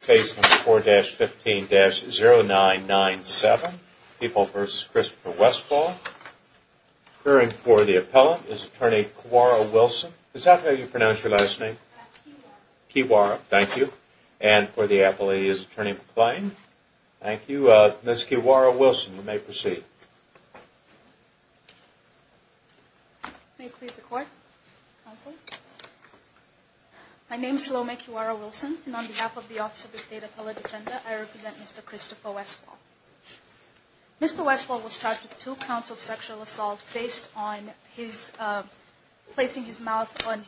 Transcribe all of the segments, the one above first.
Case number 4-15-0997, People v. Christopher Westfall. Appearing for the appellant is attorney Kiwara Wilson. Is that how you pronounce your last name? Kiwara. Kiwara, thank you. And for the appellee is attorney McClain. Thank you. Ms. Kiwara Wilson, you may proceed. May it please the court, counsel. My name is Salome Kiwara Wilson. And on behalf of the Office of the State Appellate Defender, I represent Mr. Christopher Westfall. Mr. Westfall was charged with two counts of sexual assault based on placing his mouth on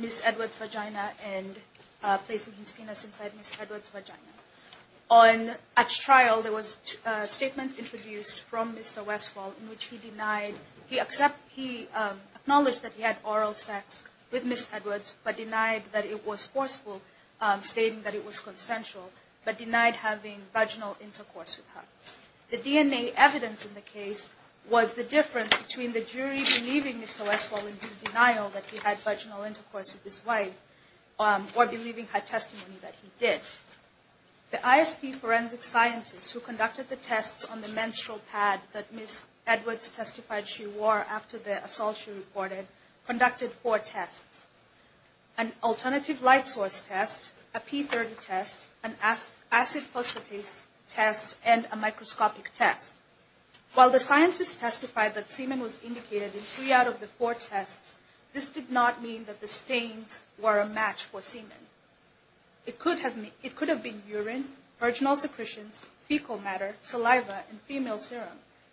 Ms. Edwards' vagina and placing his penis inside Ms. Edwards' vagina. At trial, there were statements introduced from Mr. Westfall in which he denied, he acknowledged that he had oral sex with Ms. Edwards but denied that it was forceful, stating that it was consensual, but denied having vaginal intercourse with her. The DNA evidence in the case was the difference between the jury believing Mr. Westfall in his denial that he had vaginal intercourse with his wife or believing her testimony that he did. The ISP forensic scientist who conducted the tests on the menstrual pad that Ms. Edwards testified she wore after the assault she reported conducted four tests, an alternative light source test, a P30 test, an acid phosphatase test, and a microscopic test. While the scientist testified that semen was indicated in three out of the four tests, this did not mean that the stains were a match for semen. It could have been urine, vaginal secretions, fecal matter, saliva, and female serum.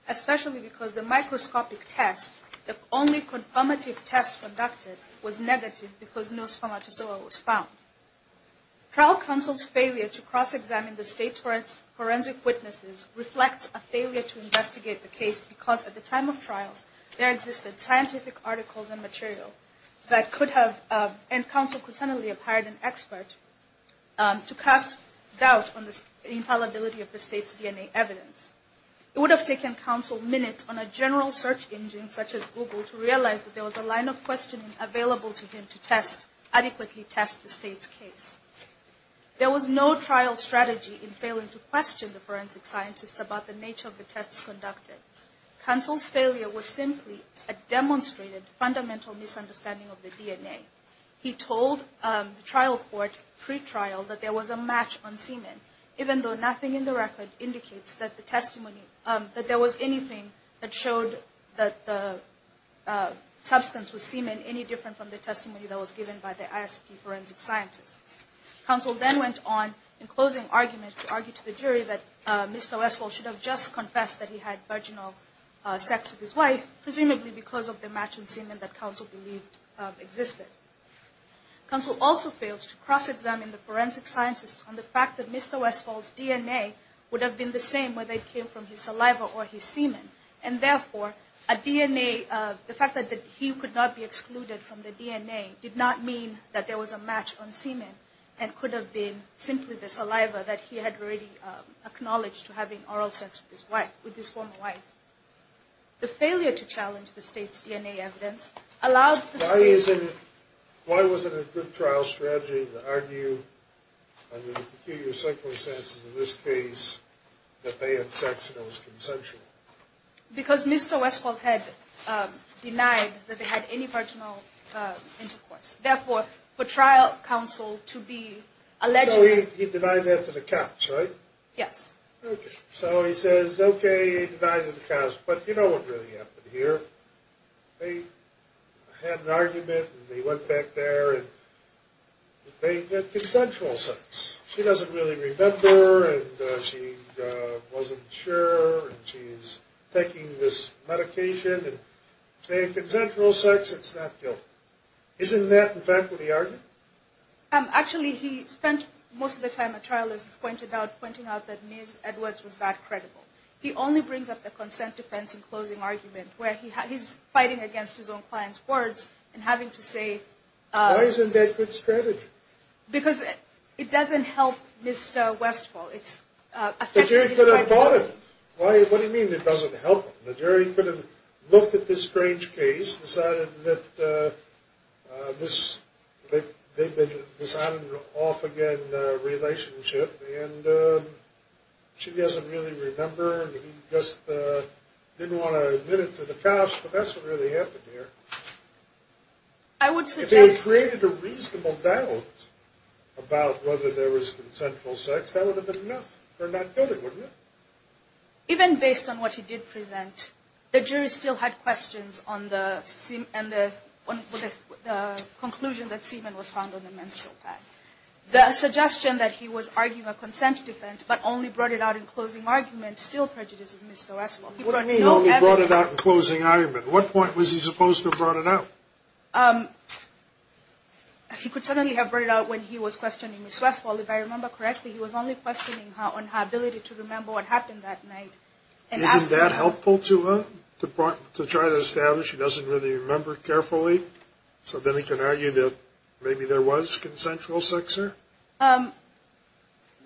Especially because the microscopic test, the only confirmative test conducted, was negative because no spermatozoa was found. Trial counsel's failure to cross-examine the state's forensic witnesses reflects a failure to investigate the case because at the time of trial there existed scientific articles and material and counsel could suddenly have hired an expert to cast doubt on the infallibility of the state's DNA evidence. It would have taken counsel minutes on a general search engine such as Google to realize that there was a line of questioning available to him to adequately test the state's case. There was no trial strategy in failing to question the forensic scientist about the nature of the tests conducted. Counsel's failure was simply a demonstrated fundamental misunderstanding of the DNA. He told the trial court pre-trial that there was a match on semen even though nothing in the record indicates that there was anything that showed that the substance was semen any different from the testimony that was given by the ISFP forensic scientist. Counsel then went on, in closing argument, to argue to the jury that Mr. Westphal should have just confessed that he had vaginal sex with his wife presumably because of the match on semen that counsel believed existed. Counsel also failed to cross-examine the forensic scientist on the fact that Mr. Westphal's DNA would have been the same whether it came from his saliva or his semen. And therefore, the fact that he could not be excluded from the DNA did not mean that there was a match on semen and could have been simply the saliva that he had already acknowledged to having oral sex with his former wife. The failure to challenge the state's DNA evidence allowed the state... Why was it a good trial strategy to argue under the peculiar circumstances in this case that they had sex and it was consensual? Because Mr. Westphal had denied that they had any vaginal intercourse. Therefore, for trial counsel to be alleged... So he denied that to the couch, right? Yes. So he says, okay, he denied it to the couch, but you know what really happened here. They had an argument and they went back there and they had consensual sex. She doesn't really remember and she wasn't sure and she's taking this medication and they had consensual sex. It's not guilt. Isn't that, in fact, what he argued? Actually, he spent most of the time at trial pointing out that Ms. Edwards was that credible. He only brings up the consent defense in closing argument where he's fighting against his own client's words and having to say... Why isn't that a good strategy? Because it doesn't help Mr. Westphal. But Jerry could have bought it. What do you mean it doesn't help him? Jerry could have looked at this strange case, decided that they'd been in an off-again relationship and she doesn't really remember and he just didn't want to admit it to the couch. But that's what really happened here. I would suggest... If he had created a reasonable doubt about whether there was consensual sex, that would have been enough for not killing, wouldn't it? Even based on what he did present, the jury still had questions on the conclusion that semen was found on the menstrual pad. The suggestion that he was arguing a consent defense but only brought it out in closing argument still prejudices Mr. Westphal. What do you mean only brought it out in closing argument? At what point was he supposed to have brought it out? He could suddenly have brought it out when he was questioning Ms. Westphal. If I remember correctly, he was only questioning her on her ability to remember what happened that night. Isn't that helpful to try to establish she doesn't really remember carefully? So then he can argue that maybe there was consensual sex, sir?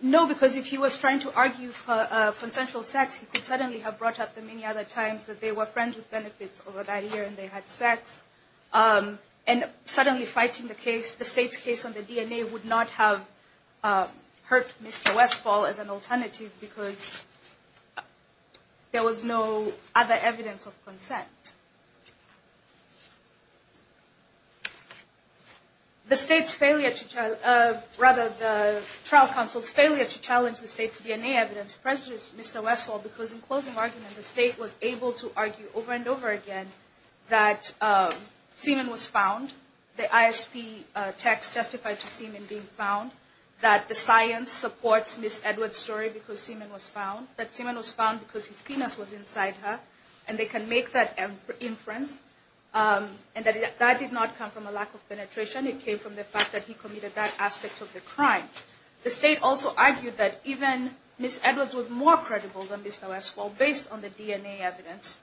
No, because if he was trying to argue consensual sex, he could suddenly have brought up the many other times that they were friends with benefits over that year and they had sex. And suddenly fighting the state's case on the DNA would not have hurt Mr. Westphal as an alternative because there was no other evidence of consent. The trial counsel's failure to challenge the state's DNA evidence prejudices Mr. Westphal because in closing argument the state was able to argue over and over again that semen was found, the ISP text justified to semen being found, that the science supports Ms. Edwards' story because semen was found, that semen was found because his penis was inside her and they can make that inference and that did not come from a lack of penetration. It came from the fact that he committed that aspect of the crime. The state also argued that even Ms. Edwards was more credible than Mr. Westphal based on the DNA evidence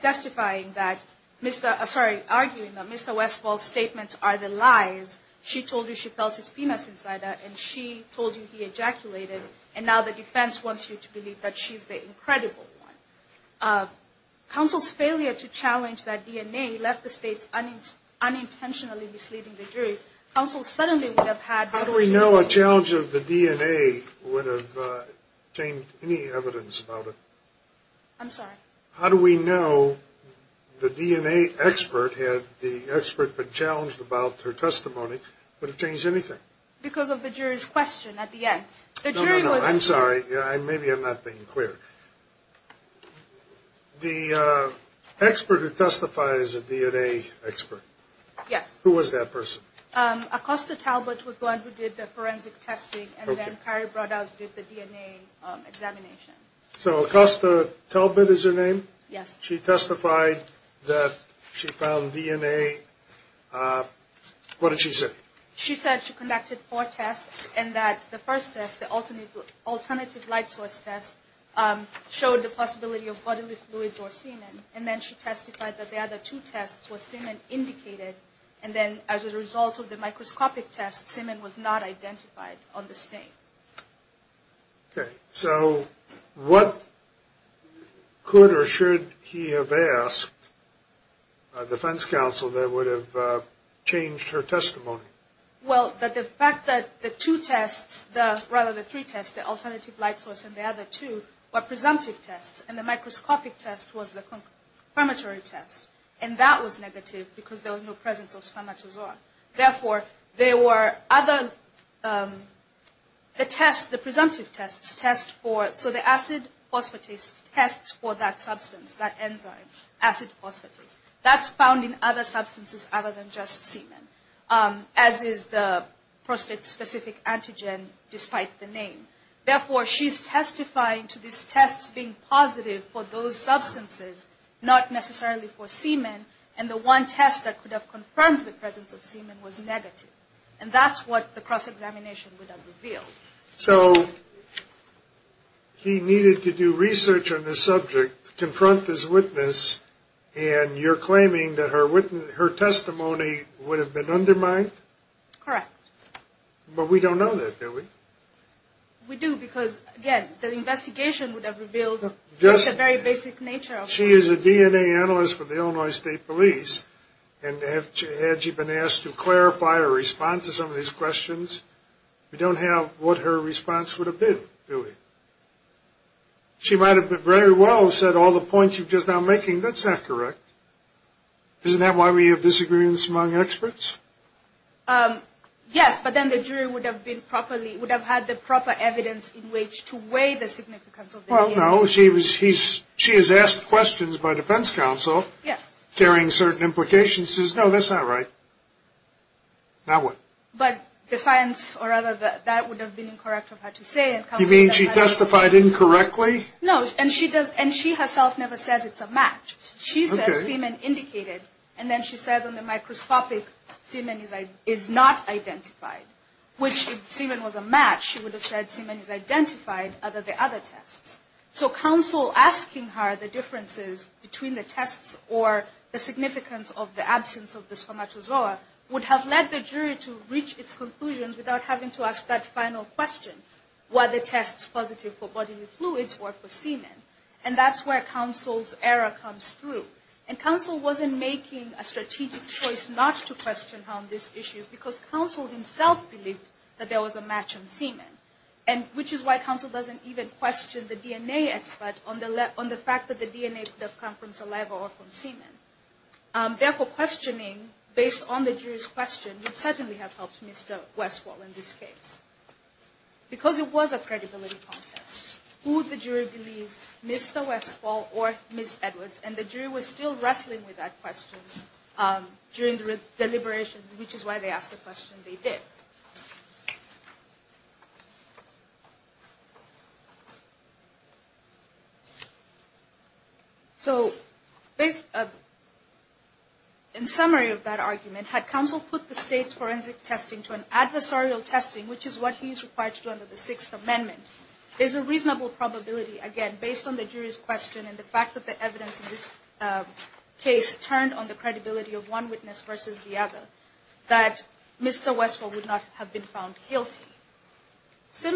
testifying that Mr., sorry, arguing that Mr. Westphal's statements are the lies. She told you she felt his penis inside her and she told you he ejaculated and now the defense wants you to believe that she's the incredible one. Counsel's failure to challenge that DNA left the state unintentionally misleading the jury. Counsel suddenly would have had How do we know a challenge of the DNA would have changed any evidence about it? I'm sorry. How do we know the DNA expert had the expert been challenged about her testimony would have changed anything? Because of the jury's question at the end. No, no, no. I'm sorry. Maybe I'm not being clear. The expert who testifies the DNA expert. Who was that person? Acosta Talbot was the one who did the forensic testing and then Carrie Broaddus did the DNA examination. So Acosta Talbot is her name? Yes. She testified that she found DNA What did she say? She said she conducted four tests and that the first test, the alternative light source test showed the possibility of bodily fluids or semen and then she testified that the other two tests were semen indicated and then as a result of the microscopic test semen was not identified on the stain. So what could or should he have asked a defense counsel that would have changed her testimony? Well, the fact that the two tests, rather the three tests the alternative light source and the other two were presumptive tests and the microscopic test was the negative because there was no presence of spermatozoa therefore there were other the tests, the presumptive tests test for, so the acid phosphatase test for that substance that enzyme, acid phosphatase that's found in other substances other than just semen as is the prostate specific antigen despite the name therefore she's testifying to these tests being positive for those substances not necessarily for semen and the one test that could have confirmed the presence of semen was negative and that's what the cross-examination would have revealed. So, he needed to do research on this subject to confront this witness and you're claiming that her witness her testimony would have been undermined? Correct. But we don't know that, do we? We do because again the investigation would have revealed just the very basic nature of it. She is a DNA analyst for the Illinois State Police and had she been asked to clarify her response to some of these questions we don't have what her response would have been, do we? She might have very well said all the points you're just now making, that's not correct. Isn't that why we have disagreements among experts? Yes, but then the jury would have been properly, would have had the proper evidence in which to She has asked questions by defense counsel carrying certain implications. She says, no, that's not right. Now what? But the science, or rather that would have been incorrect of her to say You mean she testified incorrectly? No, and she herself never says it's a match. She says semen indicated and then she says on the microscopic semen is not identified which if semen was a match she would have said semen is identified other than other tests. So counsel asking her the differences between the tests or the significance of the absence of the somatozoa would have led the jury to reach its conclusions without having to ask that final question Were the tests positive for bodily fluids or for semen? And that's where counsel's error comes through and counsel wasn't making a strategic choice not to question her on these issues because counsel himself believed that there was a match on semen and which is why counsel doesn't even question the DNA expert on the fact that the DNA could have come from saliva or from semen Therefore questioning based on the jury's question would certainly have helped Mr. Westphal in this case because it was a credibility contest. Who would the jury believe? Mr. Westphal or Ms. Edwards? And the jury was still wrestling with that question during the deliberation which is why they asked the question they did. So in summary of that argument had counsel put the state's forensic testing to an adversarial testing which is what he's required to do under the Sixth Amendment there's a reasonable probability again based on the jury's question and the fact that the evidence in this case turned on the credibility of one witness versus the other that Mr. Westphal would not have been found guilty. So the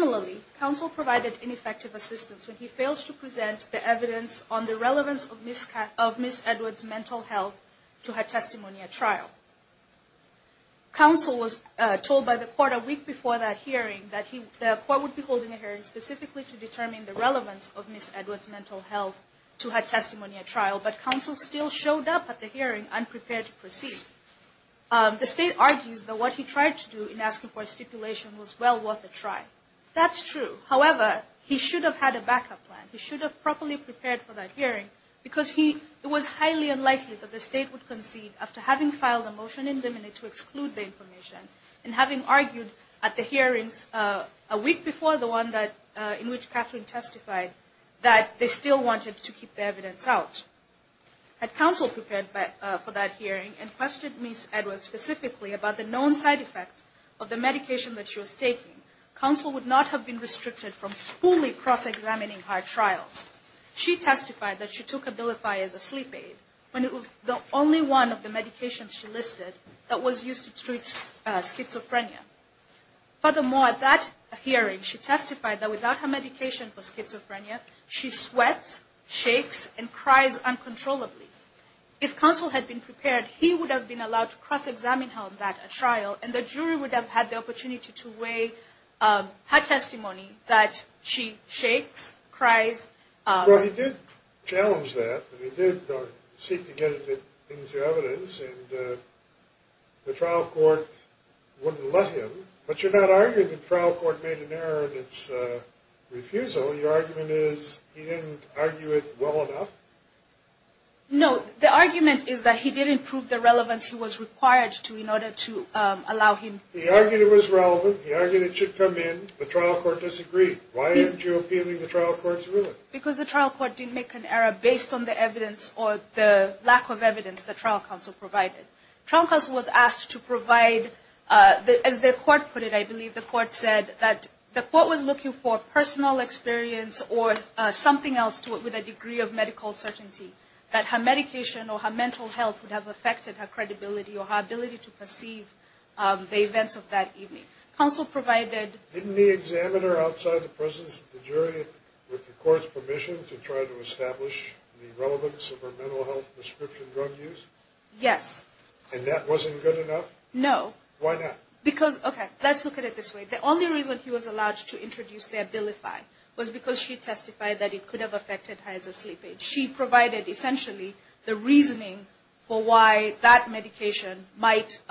jury's similarly counsel provided ineffective assistance when he failed to present the evidence on the relevance of Ms. Edwards' mental health to her testimony at trial. Counsel was told by the court a week before that hearing that the court would be holding a hearing specifically to determine the relevance of Ms. Edwards' mental health to her testimony at trial but counsel still showed up at the hearing unprepared to proceed. The state argues that what he tried to do in asking for that's true. However, he should have had a backup plan. He should have properly prepared for that hearing because he it was highly unlikely that the state would concede after having filed a motion indemnity to exclude the information and having argued at the hearings a week before the one that in which Catherine testified that they still wanted to keep the evidence out. Had counsel prepared for that hearing and questioned Ms. Edwards specifically about the known side effects of the medication that she was taking, counsel would not have been restricted from fully cross-examining her trial. She testified that she took Abilify as a sleep aid when it was the only one of the medications she listed that was used to treat schizophrenia. Furthermore, at that hearing she testified that without her medication for schizophrenia she sweats, shakes, and cries uncontrollably. If counsel had been prepared, he would have been allowed to cross-examine her at that trial and the jury would have had the opportunity to weigh her testimony that she shakes, cries Well he did challenge that, he did seek to get it into evidence and the trial court wouldn't let him but you're not arguing the trial court made an error in its refusal your argument is he didn't argue it well enough? No, the argument is that he didn't prove the relevance he was required to in order to allow him The argument was relevant the argument should come in, the trial court doesn't agree Why aren't you appealing the trial court's ruling? Because the trial court didn't make an error based on the evidence or the lack of evidence the trial counsel provided Trial counsel was asked to provide as the court put it, I believe the court said the court was looking for personal experience or something else to it with a degree of medical certainty that her medication or her mental health could have affected her credibility or her ability to perceive the events of that evening. Counsel provided Didn't he examine her outside the presence of the jury with the court's permission to try to establish the relevance of her mental health prescription drug use? Yes And that wasn't good enough? No Why not? Because, okay, let's look at it this way. The only reason he was allowed to introduce the Abilify was because she testified that it could have affected her sleep age. She provided essentially the reasoning for why that medication might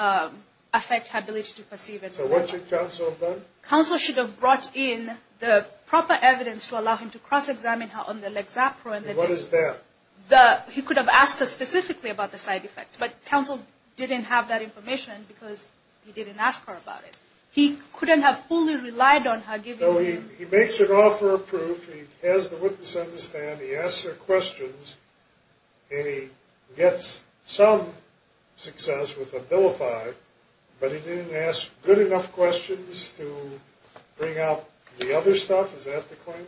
affect her ability to perceive it So what should counsel have done? Counsel should have brought in the proper evidence to allow him to cross-examine her on the Lexapro. And what is that? He could have asked her specifically about the side effects, but counsel didn't have that information because he didn't ask her about it. He couldn't have fully relied on her giving So he makes an offer of proof he has the witness understand, he asks her questions, and he gets some success with Abilify but he didn't ask good enough questions to bring out the other stuff? Is that the claim?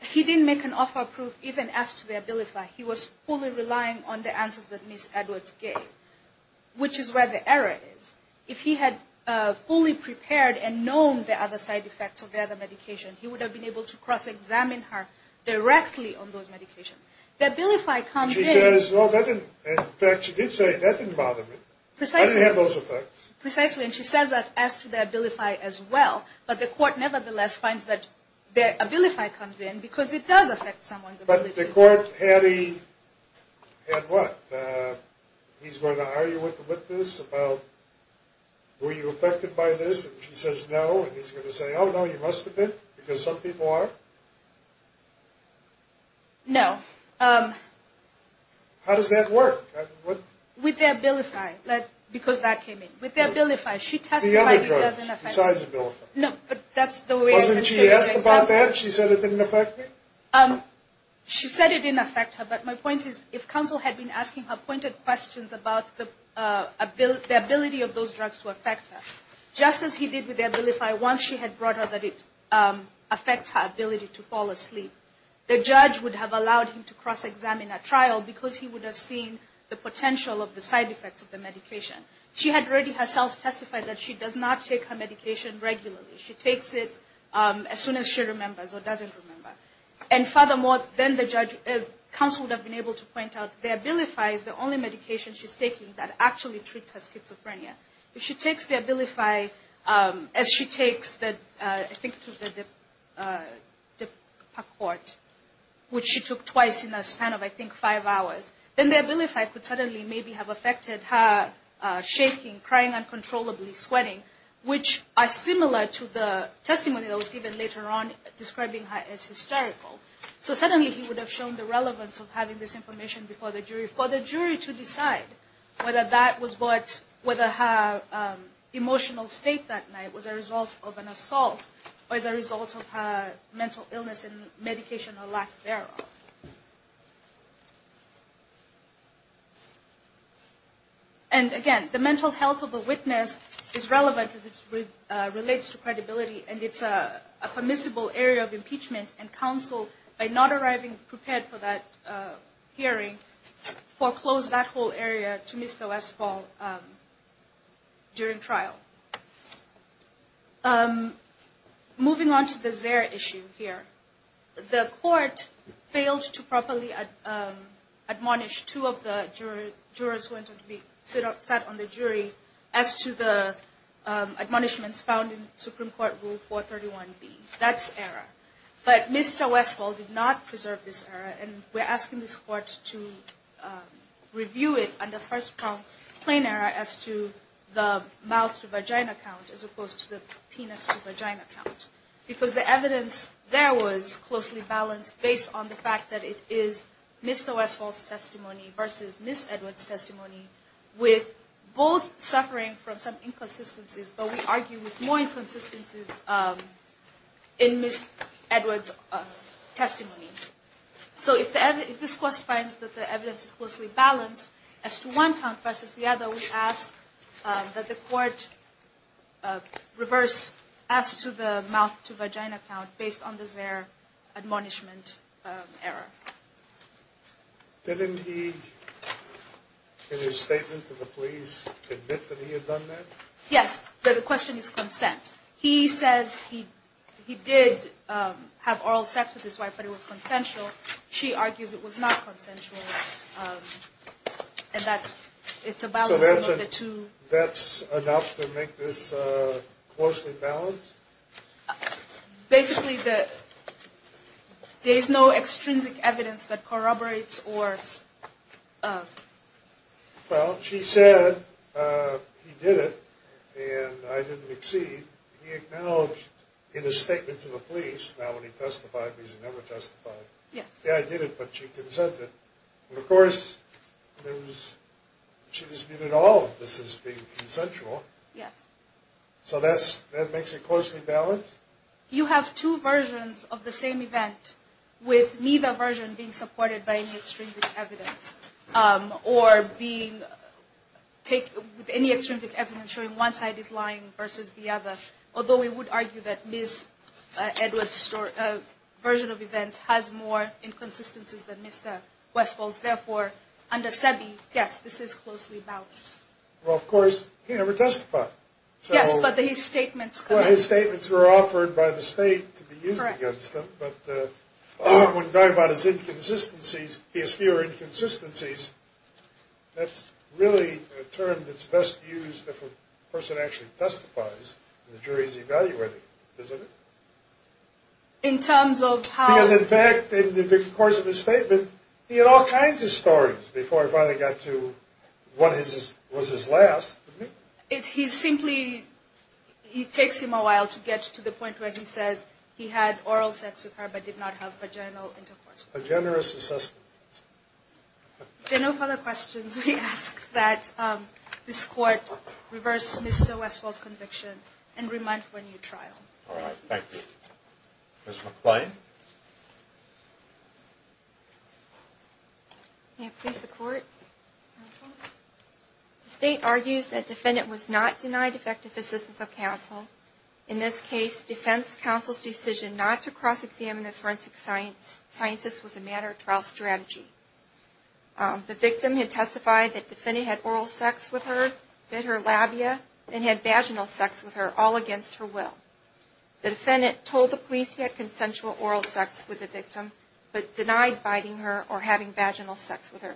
He didn't make an offer of proof even as to the Abilify He was fully relying on the answers that Ms. Edwards gave which is where the error is. If he had fully prepared and known the other side effects of the other medication, he would have been able to cross-examine her directly on those medications The Abilify comes in She says, in fact she did say that didn't bother me. I didn't have those effects Precisely, and she says that as to the Abilify as well, but the court nevertheless finds that the Abilify comes in because it does affect someone's ability. But the court had a had what? He's going to argue with the witness about were you affected by this? And she says no and he's going to say, oh no you must have been Because some people are? No How does that work? With the Abilify because that came in With the Abilify, she testified that it doesn't affect her Besides Abilify Wasn't she asked about that? She said it didn't affect her? She said it didn't affect her, but my point is if counsel had been asking her pointed questions about the ability of those drugs to affect her just as he did with the Abilify once she had brought out that it affects her ability to fall asleep the judge would have allowed him to cross-examine at trial because he would have seen the potential of the side effects of the medication. She had already herself testified that she does not take her medication regularly. She takes it as soon as she remembers or doesn't remember. And furthermore then the judge, counsel would have been able to point out the Abilify is the only medication she's taking that actually treats her schizophrenia. If she takes the Abilify as she takes I think it was the Depakort which she took twice in the span of I think five hours, then the Abilify could suddenly maybe have affected her shaking, crying uncontrollably sweating, which are similar to the testimony that was given later on describing her as hysterical. So suddenly he would have shown the relevance of having this information before the jury for the jury to decide whether that was what whether her emotional state that night was a result of an assault or as a result of her mental illness and medication or lack thereof. And again, the mental health of the witness is relevant as it relates to credibility and it's a permissible area of impeachment and counsel by not arriving prepared for that hearing foreclosed that whole area to Mr. Westphal during trial. Moving on to the Zaire issue here. The court failed to properly admonish two of the jurors who went on to be sat on the jury as to the admonishments found in Supreme Court Rule 431B That's error. But Mr. Westphal did not preserve this error and we're asking this court to make a first-pronged claim error as to the mouth-to-vagina count as opposed to the penis-to-vagina count because the evidence there was closely balanced based on the fact that it is Mr. Westphal's testimony versus Ms. Edwards' testimony with both suffering from some inconsistencies but we argue with more inconsistencies in Ms. Edwards' testimony. So if this court finds that the evidence is closely balanced as to one count versus the other, we ask that the court reverse as to the mouth-to-vagina count based on the Zaire admonishment error. Didn't he in his statement to the police admit that he had done that? Yes. The question is consent. He says he did have oral sex with his wife but it was consensual. She argues it was not consensual and that it's a balance of the two. So that's enough to make this closely balanced? Basically that there is no extrinsic evidence that corroborates or Well, she said he did it and I didn't exceed. He acknowledged in his statement to the police now when he testified because he never testified. Yes. Yeah, he did it but she consented. And of course there was all of this is being consensual. Yes. So that makes it closely balanced? You have two versions of the same event with neither version being supported by any extrinsic evidence or being taken any extrinsic evidence showing one side is lying versus the other. Although we would argue that Ms. Edwards' version of events has more inconsistencies than Mr. Westphal's. Therefore, under SEBI, yes, this is closely balanced. Well, of course, he never testified. Yes, but his statements were offered by the state to be used against him. But when you talk about his inconsistencies, he has fewer inconsistencies. That's really a term that's best used if a person actually testifies and the jury is evaluating. In terms of how... Because in fact, in the course of his statement, he had all kinds of stories before he finally got to what was his last. He simply takes him a while to get to the point where he says he had oral sex with her but did not have vaginal intercourse. A generous assessment. If there are no further questions, we ask that this Court reverse Mr. Westphal's conviction and that he be released every month when you trial. All right. Thank you. Ms. McClain? May it please the Court? The State argues that the defendant was not denied effective assistance of counsel. In this case, defense counsel's decision not to cross-examine the forensic scientist was a matter of trial strategy. The victim had testified that the defendant had oral sex with her, bit her labia, and had vaginal sex with her, all against her will. The defendant told the police he had consensual oral sex with the victim, but denied biting her or having vaginal sex with her.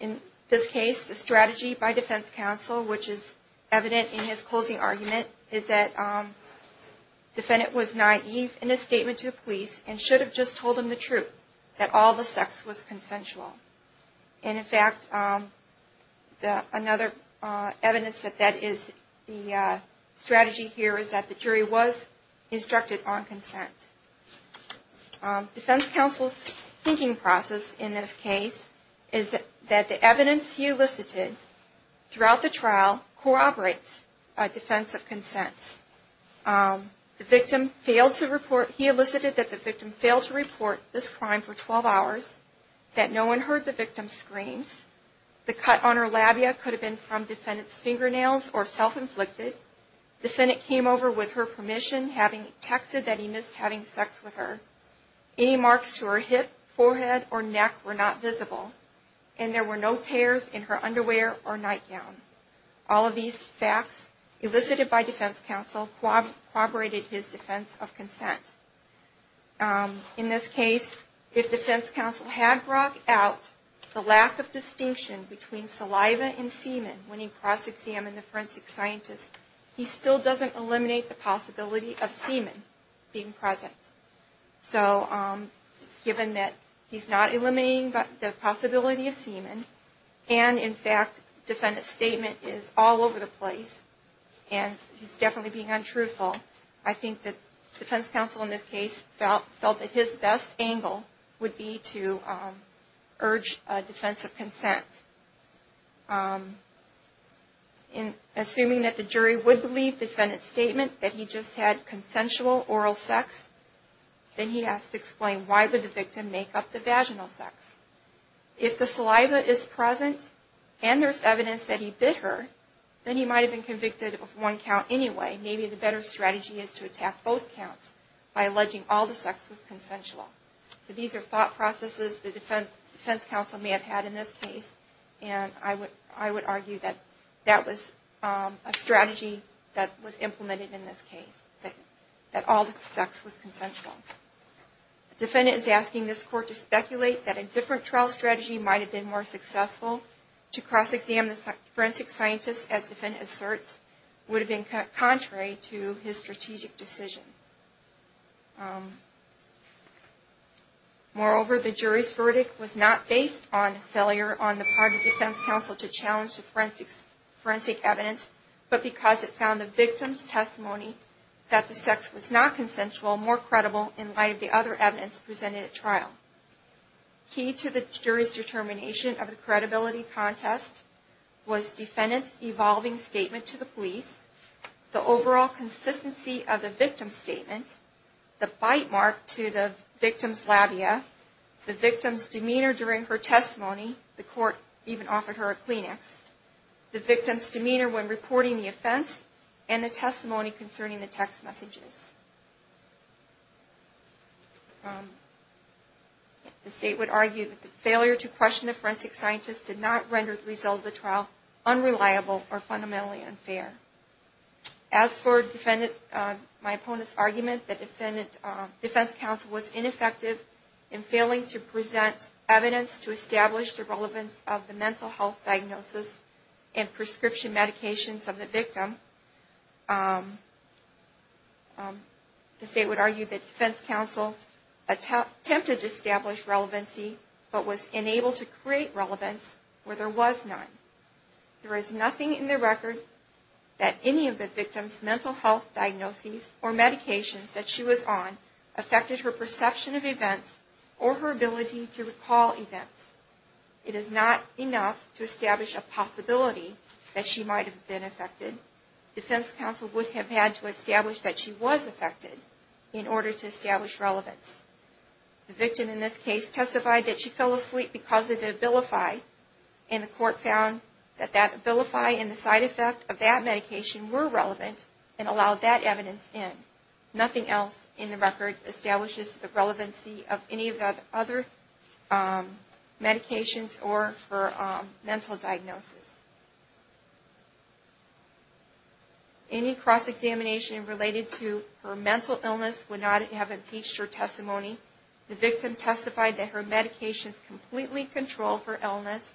In this case, the strategy by defense counsel, which is evident in his closing argument, is that the defendant was naive in his statement to the police and should have just told him the truth, that all the sex was consensual. And in fact, another evidence that that is the strategy here is that the jury was instructed on consent. Defense counsel's thinking process in this case is that the evidence he elicited throughout the trial corroborates a defense of consent. He elicited that the victim failed to report this crime for 12 hours, that the cut on her labia could have been from defendant's fingernails or self-inflicted, defendant came over with her permission, having texted that he missed having sex with her, any marks to her hip, forehead, or neck were not visible, and there were no tears in her underwear or nightgown. All of these facts, elicited by defense counsel, corroborated his defense of consent. In this case, if defense counsel had brought out the lack of distinction between saliva and semen when he cross-examined the forensic scientist, he still doesn't eliminate the possibility of semen being present. So, given that he's not eliminating the possibility of semen, and in fact, defendant's statement is all over the place, and he's definitely being untruthful, I think that defense counsel in this case felt that his best angle would be to urge defense of consent. Assuming that the jury would believe defendant's statement that he just had consensual oral sex, then he has to explain why would the victim make up the vaginal sex. If the saliva is present, and there's evidence that he bit her, then he might have been convicted of one count anyway. Maybe the better strategy is to attack both counts by alleging all the sex was consensual. That's one of the best processes the defense counsel may have had in this case, and I would argue that that was a strategy that was implemented in this case. That all the sex was consensual. Defendant is asking this court to speculate that a different trial strategy might have been more successful to cross-examine the forensic scientist as defendant asserts would have been contrary to his strategic decision. However, the jury's verdict was not based on failure on the part of defense counsel to challenge the forensic evidence, but because it found the victim's testimony that the sex was not consensual more credible in light of the other evidence presented at trial. Key to the jury's determination of the credibility contest was defendant's evolving statement to the police, the overall consistency of the victim's statement, the bite mark to the victim's labia, the victim's demeanor during her testimony, the court even offered her a Kleenex, the victim's demeanor when reporting the offense, and the testimony concerning the text messages. The state would argue that the failure to question the forensic scientist did not render the result of the trial unreliable or fundamentally unfair. As for my opponent's argument that defense counsel was ineffective in failing to present evidence to establish the relevance of the mental health diagnosis and prescription medications of the victim, the state would argue that defense counsel attempted to establish relevancy, but was unable to create relevance where there was none. There is nothing in the record that any of the victim's mental health diagnoses or medications that she was on affected her perception of events or her ability to recall events. It is not enough to establish a possibility that she might have been affected. Defense counsel would have had to establish that she was affected in order to establish relevance. The victim in this case testified that she fell asleep because of the Abilify and the court found that that Abilify and the side effect of that medication were relevant and allowed that evidence in. Nothing else in the record establishes the relevancy of any of the other medications or her mental diagnosis. Any cross-examination related to her mental illness would not have impeached her testimony. The victim testified that her medications completely controlled her illness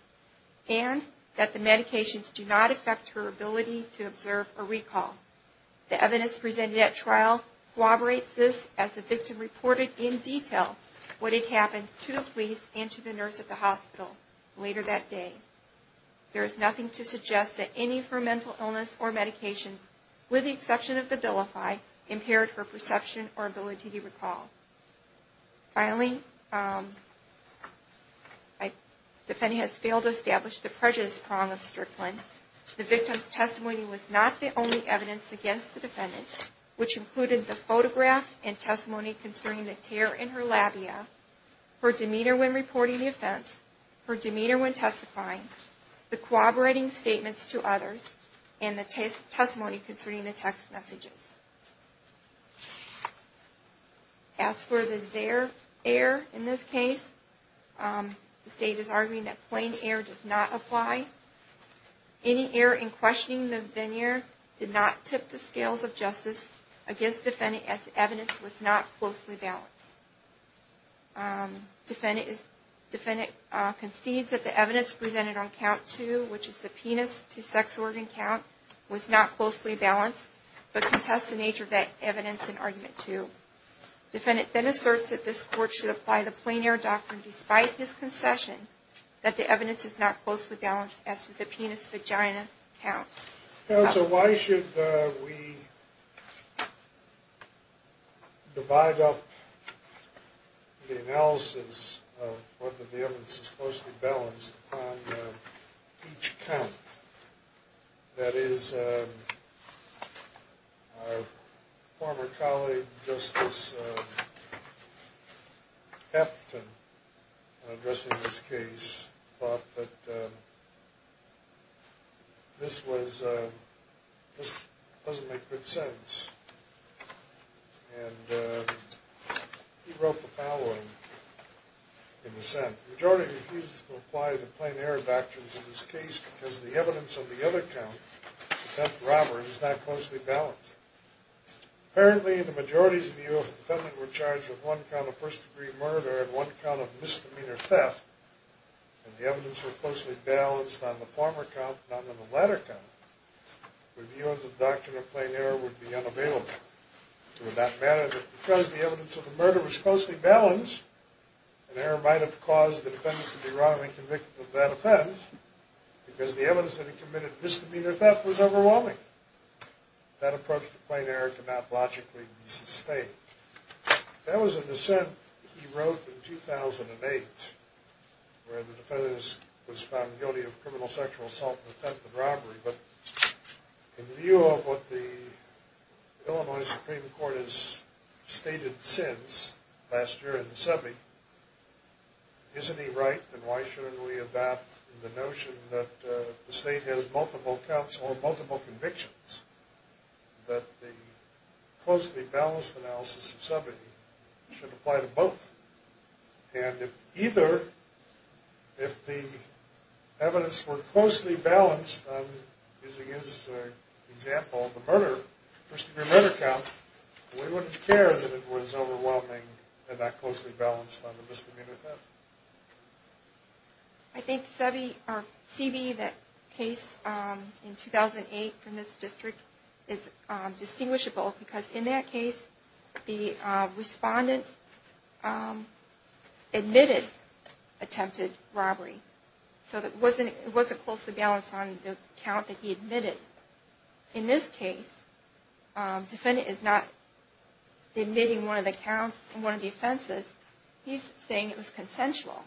and that the medications do not affect her ability to observe or recall. The evidence presented at trial corroborates this as the victim reported in detail what had happened to the police and to the nurse at the hospital later that day. There is nothing to suggest that any of her mental illness or medications with the exception of Abilify impaired her perception or ability to recall. Finally, the defendant has failed to establish the prejudice prong of Strickland. The victim's testimony was not the only evidence against the defendant which included the photograph and testimony concerning the tear in her labia, her demeanor when reporting the offense, her demeanor when testifying, the corroborating statements to others, and the testimony concerning the text messages. As for the Xer air in this case, the state is arguing that plain air does not apply. Any error in questioning the veneer did not tip the scales of justice against defendant as evidence was not closely balanced. Defendant concedes that the evidence presented on count 2 which is the penis to sex organ count was not closely balanced but contests the nature of that evidence in argument 2. Defendant then asserts that this court should apply the plain air doctrine despite this concession that the evidence is not closely balanced as to the penis-vagina count. Counsel, why should we divide up the analysis of whether the evidence is closely balanced on each count? That is our former colleague Justice Hefton addressing this case thought that this was just doesn't make good sense. And he wrote the following in dissent. The majority refuses to apply the plain air doctrine to this case because the evidence of the other count, Hefton-Roberts, is not closely balanced. Apparently, in the majority's view the defendant were charged with one count of first-degree murder and one count of misdemeanor theft, and the evidence were closely balanced on the former count, not on the latter count. Review of the doctrine of plain air would be unavailable. It would not matter that because the evidence of the murder was closely balanced an error might have caused the defendant to be wrongly convicted of that offense because the evidence that he committed misdemeanor theft was overwhelming. That approach to plain air cannot logically be sustained. That was a dissent he wrote in 2008 where the defendant was found guilty of criminal sexual assault and attempted robbery, but in view of what the Illinois Supreme Court has stated since last year in the semi, isn't he right and why shouldn't we adapt the notion that the state has multiple counsel and multiple convictions that the closely balanced analysis of SEBI should apply to both and if either if the evidence were closely balanced using his example of the murder first-degree murder count, we wouldn't care that it was overwhelming and not closely balanced on the misdemeanor theft. I think SEBI, or CB that case in 2008 from this district is distinguishable because in that case the respondent admitted attempted robbery so it wasn't closely balanced on the count that he admitted in this case the defendant is not admitting one of the counts and one of the offenses he's saying it was consensual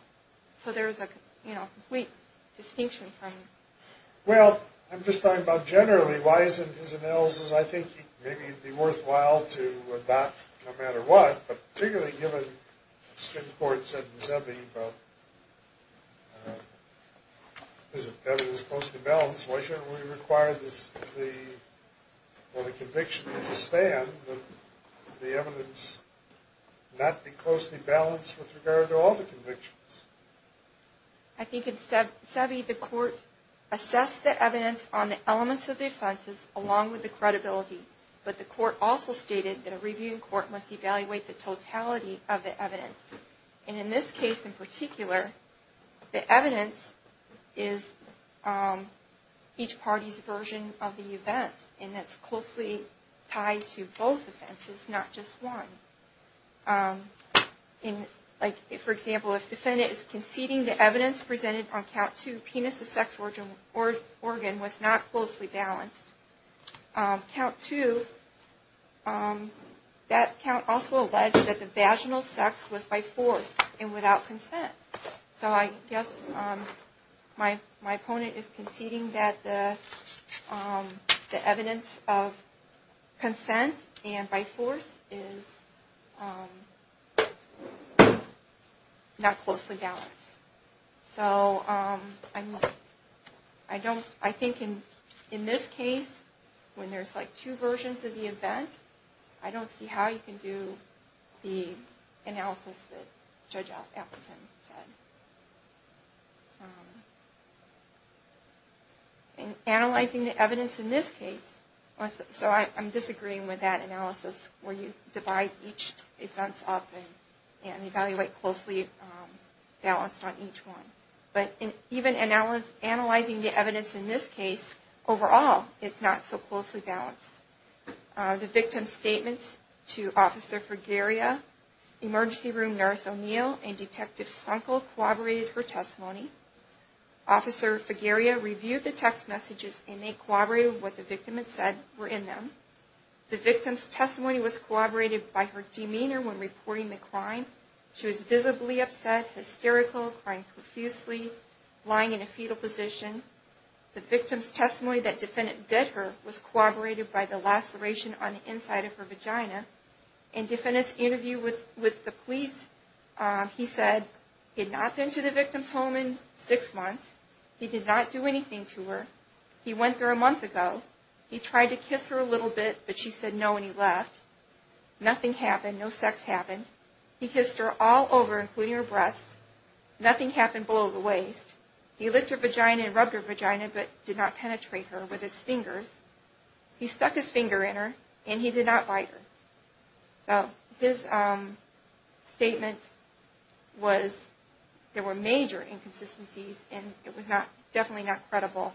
so there's a complete distinction from... Well, I'm just talking about generally why isn't his analysis, I think maybe it would be worthwhile to adopt no matter what, but particularly given the Supreme Court said in SEBI that if the evidence is closely balanced, why shouldn't we require the conviction to stand that the evidence not be closely balanced with regard to all the convictions? I think in SEBI the court assessed the evidence on the elements of the offenses along with the credibility but the court also stated that a reviewing court must evaluate the totality of the evidence and in this case in particular the evidence is each party's version of the events and it's closely tied to both offenses not just one. For example, if the defendant is conceding the evidence presented on count 2 penis is sex organ was not closely balanced count 2 that count also alleged that the vaginal sex was by force and without consent so I guess my opponent is conceding that the evidence of consent and by force is not closely balanced so I think in this case when there's like two versions of the event, I don't see how you can do the analysis that Judge Appleton said Analyzing the evidence in this case so I'm disagreeing with that analysis where you divide each offense up and evaluate closely balanced on each one, but even analyzing the evidence in this case overall it's not so closely balanced The victim's statements to Officer Figueria, Emergency Room Nurse O'Neill and Detective Stunkle corroborated her testimony Officer Figueria reviewed the text messages and they corroborated what the victim had said were in them The victim's testimony was corroborated by her demeanor when reporting the crime. She was visibly upset, hysterical, crying profusely lying in a fetal position The victim's testimony that defendant bit her was corroborated by the laceration on the inside of her vagina. In defendant's interview with the police he said he had not been to the victim's home in six months he did not do anything to her he went there a month ago he tried to kiss her a little bit but she said no and he left nothing happened, no sex happened he kissed her all over including her breasts, nothing happened below the waist, he licked her vagina and rubbed her vagina but did not penetrate her with his fingers he stuck his finger in her and he did not bite her His statement was there were major inconsistencies and it was definitely not credible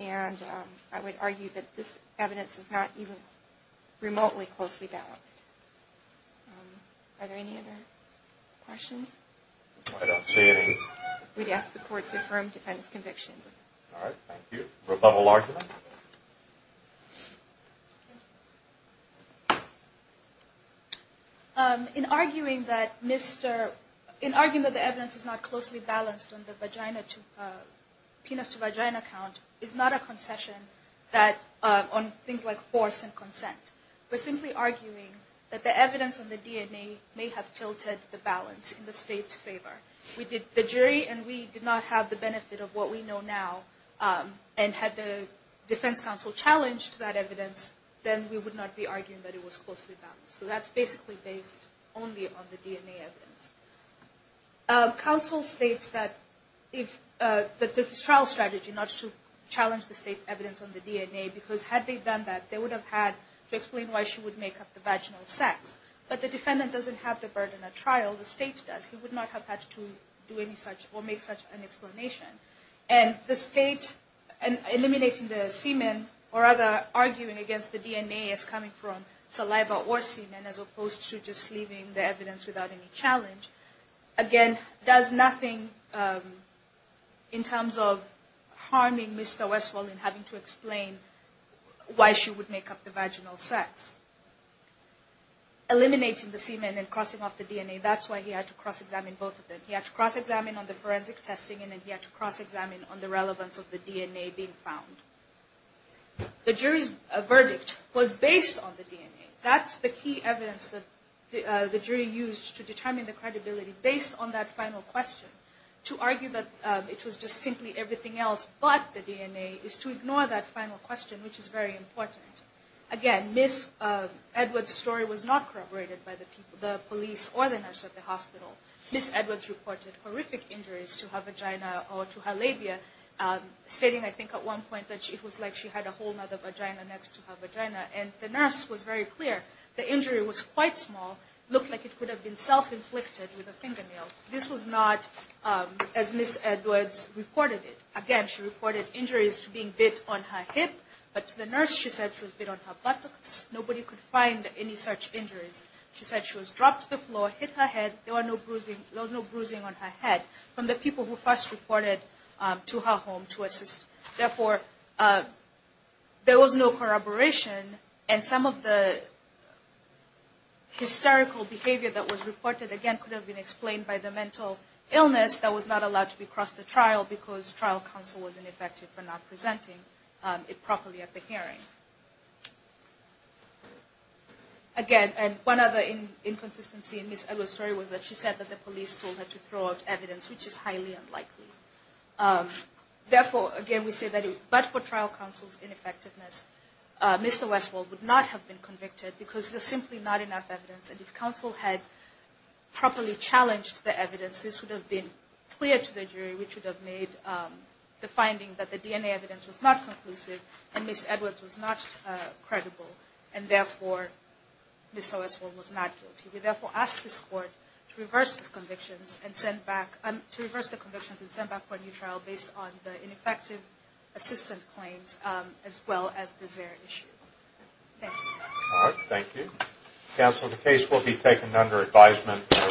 and I would argue that this evidence is not even remotely closely balanced Are there any other questions? I don't see any We'd ask the court to affirm defendant's conviction Alright, thank you. Rebuttal argument? In arguing that Mr. In arguing that the evidence is not closely balanced on the vagina to vagina count is not a concession on things like force and consent. We're simply arguing that the evidence on the DNA may have tilted the balance in the state's favor. The jury and we did not have the benefit of what we know now and had the defense counsel challenged that evidence then we would not be arguing that it was closely balanced so that's basically based only on the DNA evidence Counsel states that the trial strategy not to challenge the state's evidence on the DNA because had they done that they would have had to explain why she would make up the vaginal sex. But the defendant doesn't have the burden at trial. The state does. He would not have had to do any such or make such an explanation and the state eliminating the semen or rather arguing against the DNA as coming from saliva or semen as opposed to just leaving the evidence without any challenge, again does nothing in terms of harming Mr. Westphal in having to explain why she would make up the vaginal sex. Eliminating the semen and crossing off the DNA, that's why he had to cross-examine both of them. He had to cross-examine on the forensic testing and then he had to cross-examine on the relevance of the DNA being found. The jury's verdict was based on the DNA. That's the key evidence that the jury used to question. To argue that it was just simply everything else but the DNA is to ignore that final question, which is very important. Again, Ms. Edwards' story was not corroborated by the police or the nurse at the hospital. Ms. Edwards reported horrific injuries to her vagina or to her labia stating, I think, at one point that it was like she had a whole other vagina next to her vagina and the nurse was very clear. The injury was quite small, looked like it could have been self-inflicted with a fingernail. This was not as Ms. Edwards reported it. Again, she reported injuries to being bit on her hip, but to the nurse she said she was bit on her buttocks. Nobody could find any such injuries. She said she was dropped to the floor, hit her head, there was no bruising on her head from the people who first reported to her home to assist. Therefore, there was no corroboration and some of the hysterical behavior that was reported, again, could have been explained by the mental illness that was not allowed to be crossed at trial because trial counsel was ineffective for not presenting it properly at the hearing. Again, one other inconsistency in Ms. Edwards' story was that she said that the police told her to throw out evidence, which is highly unlikely. Therefore, again, we say that but for trial counsel's ineffectiveness, Mr. Westfall would not have been convicted because there was simply not enough evidence and if counsel had properly challenged the evidence, this would have been clear to the jury, which would have made the finding that the DNA evidence was not conclusive and Ms. Edwards was not credible and therefore, Mr. Westfall was not guilty. We therefore ask this court to reverse the convictions and send back, to reverse the convictions and send back for a new trial based on the ineffective assistant claims as well as the ZEHR issue. Thank you. Thank you. Counsel, the case will be taken under advisement.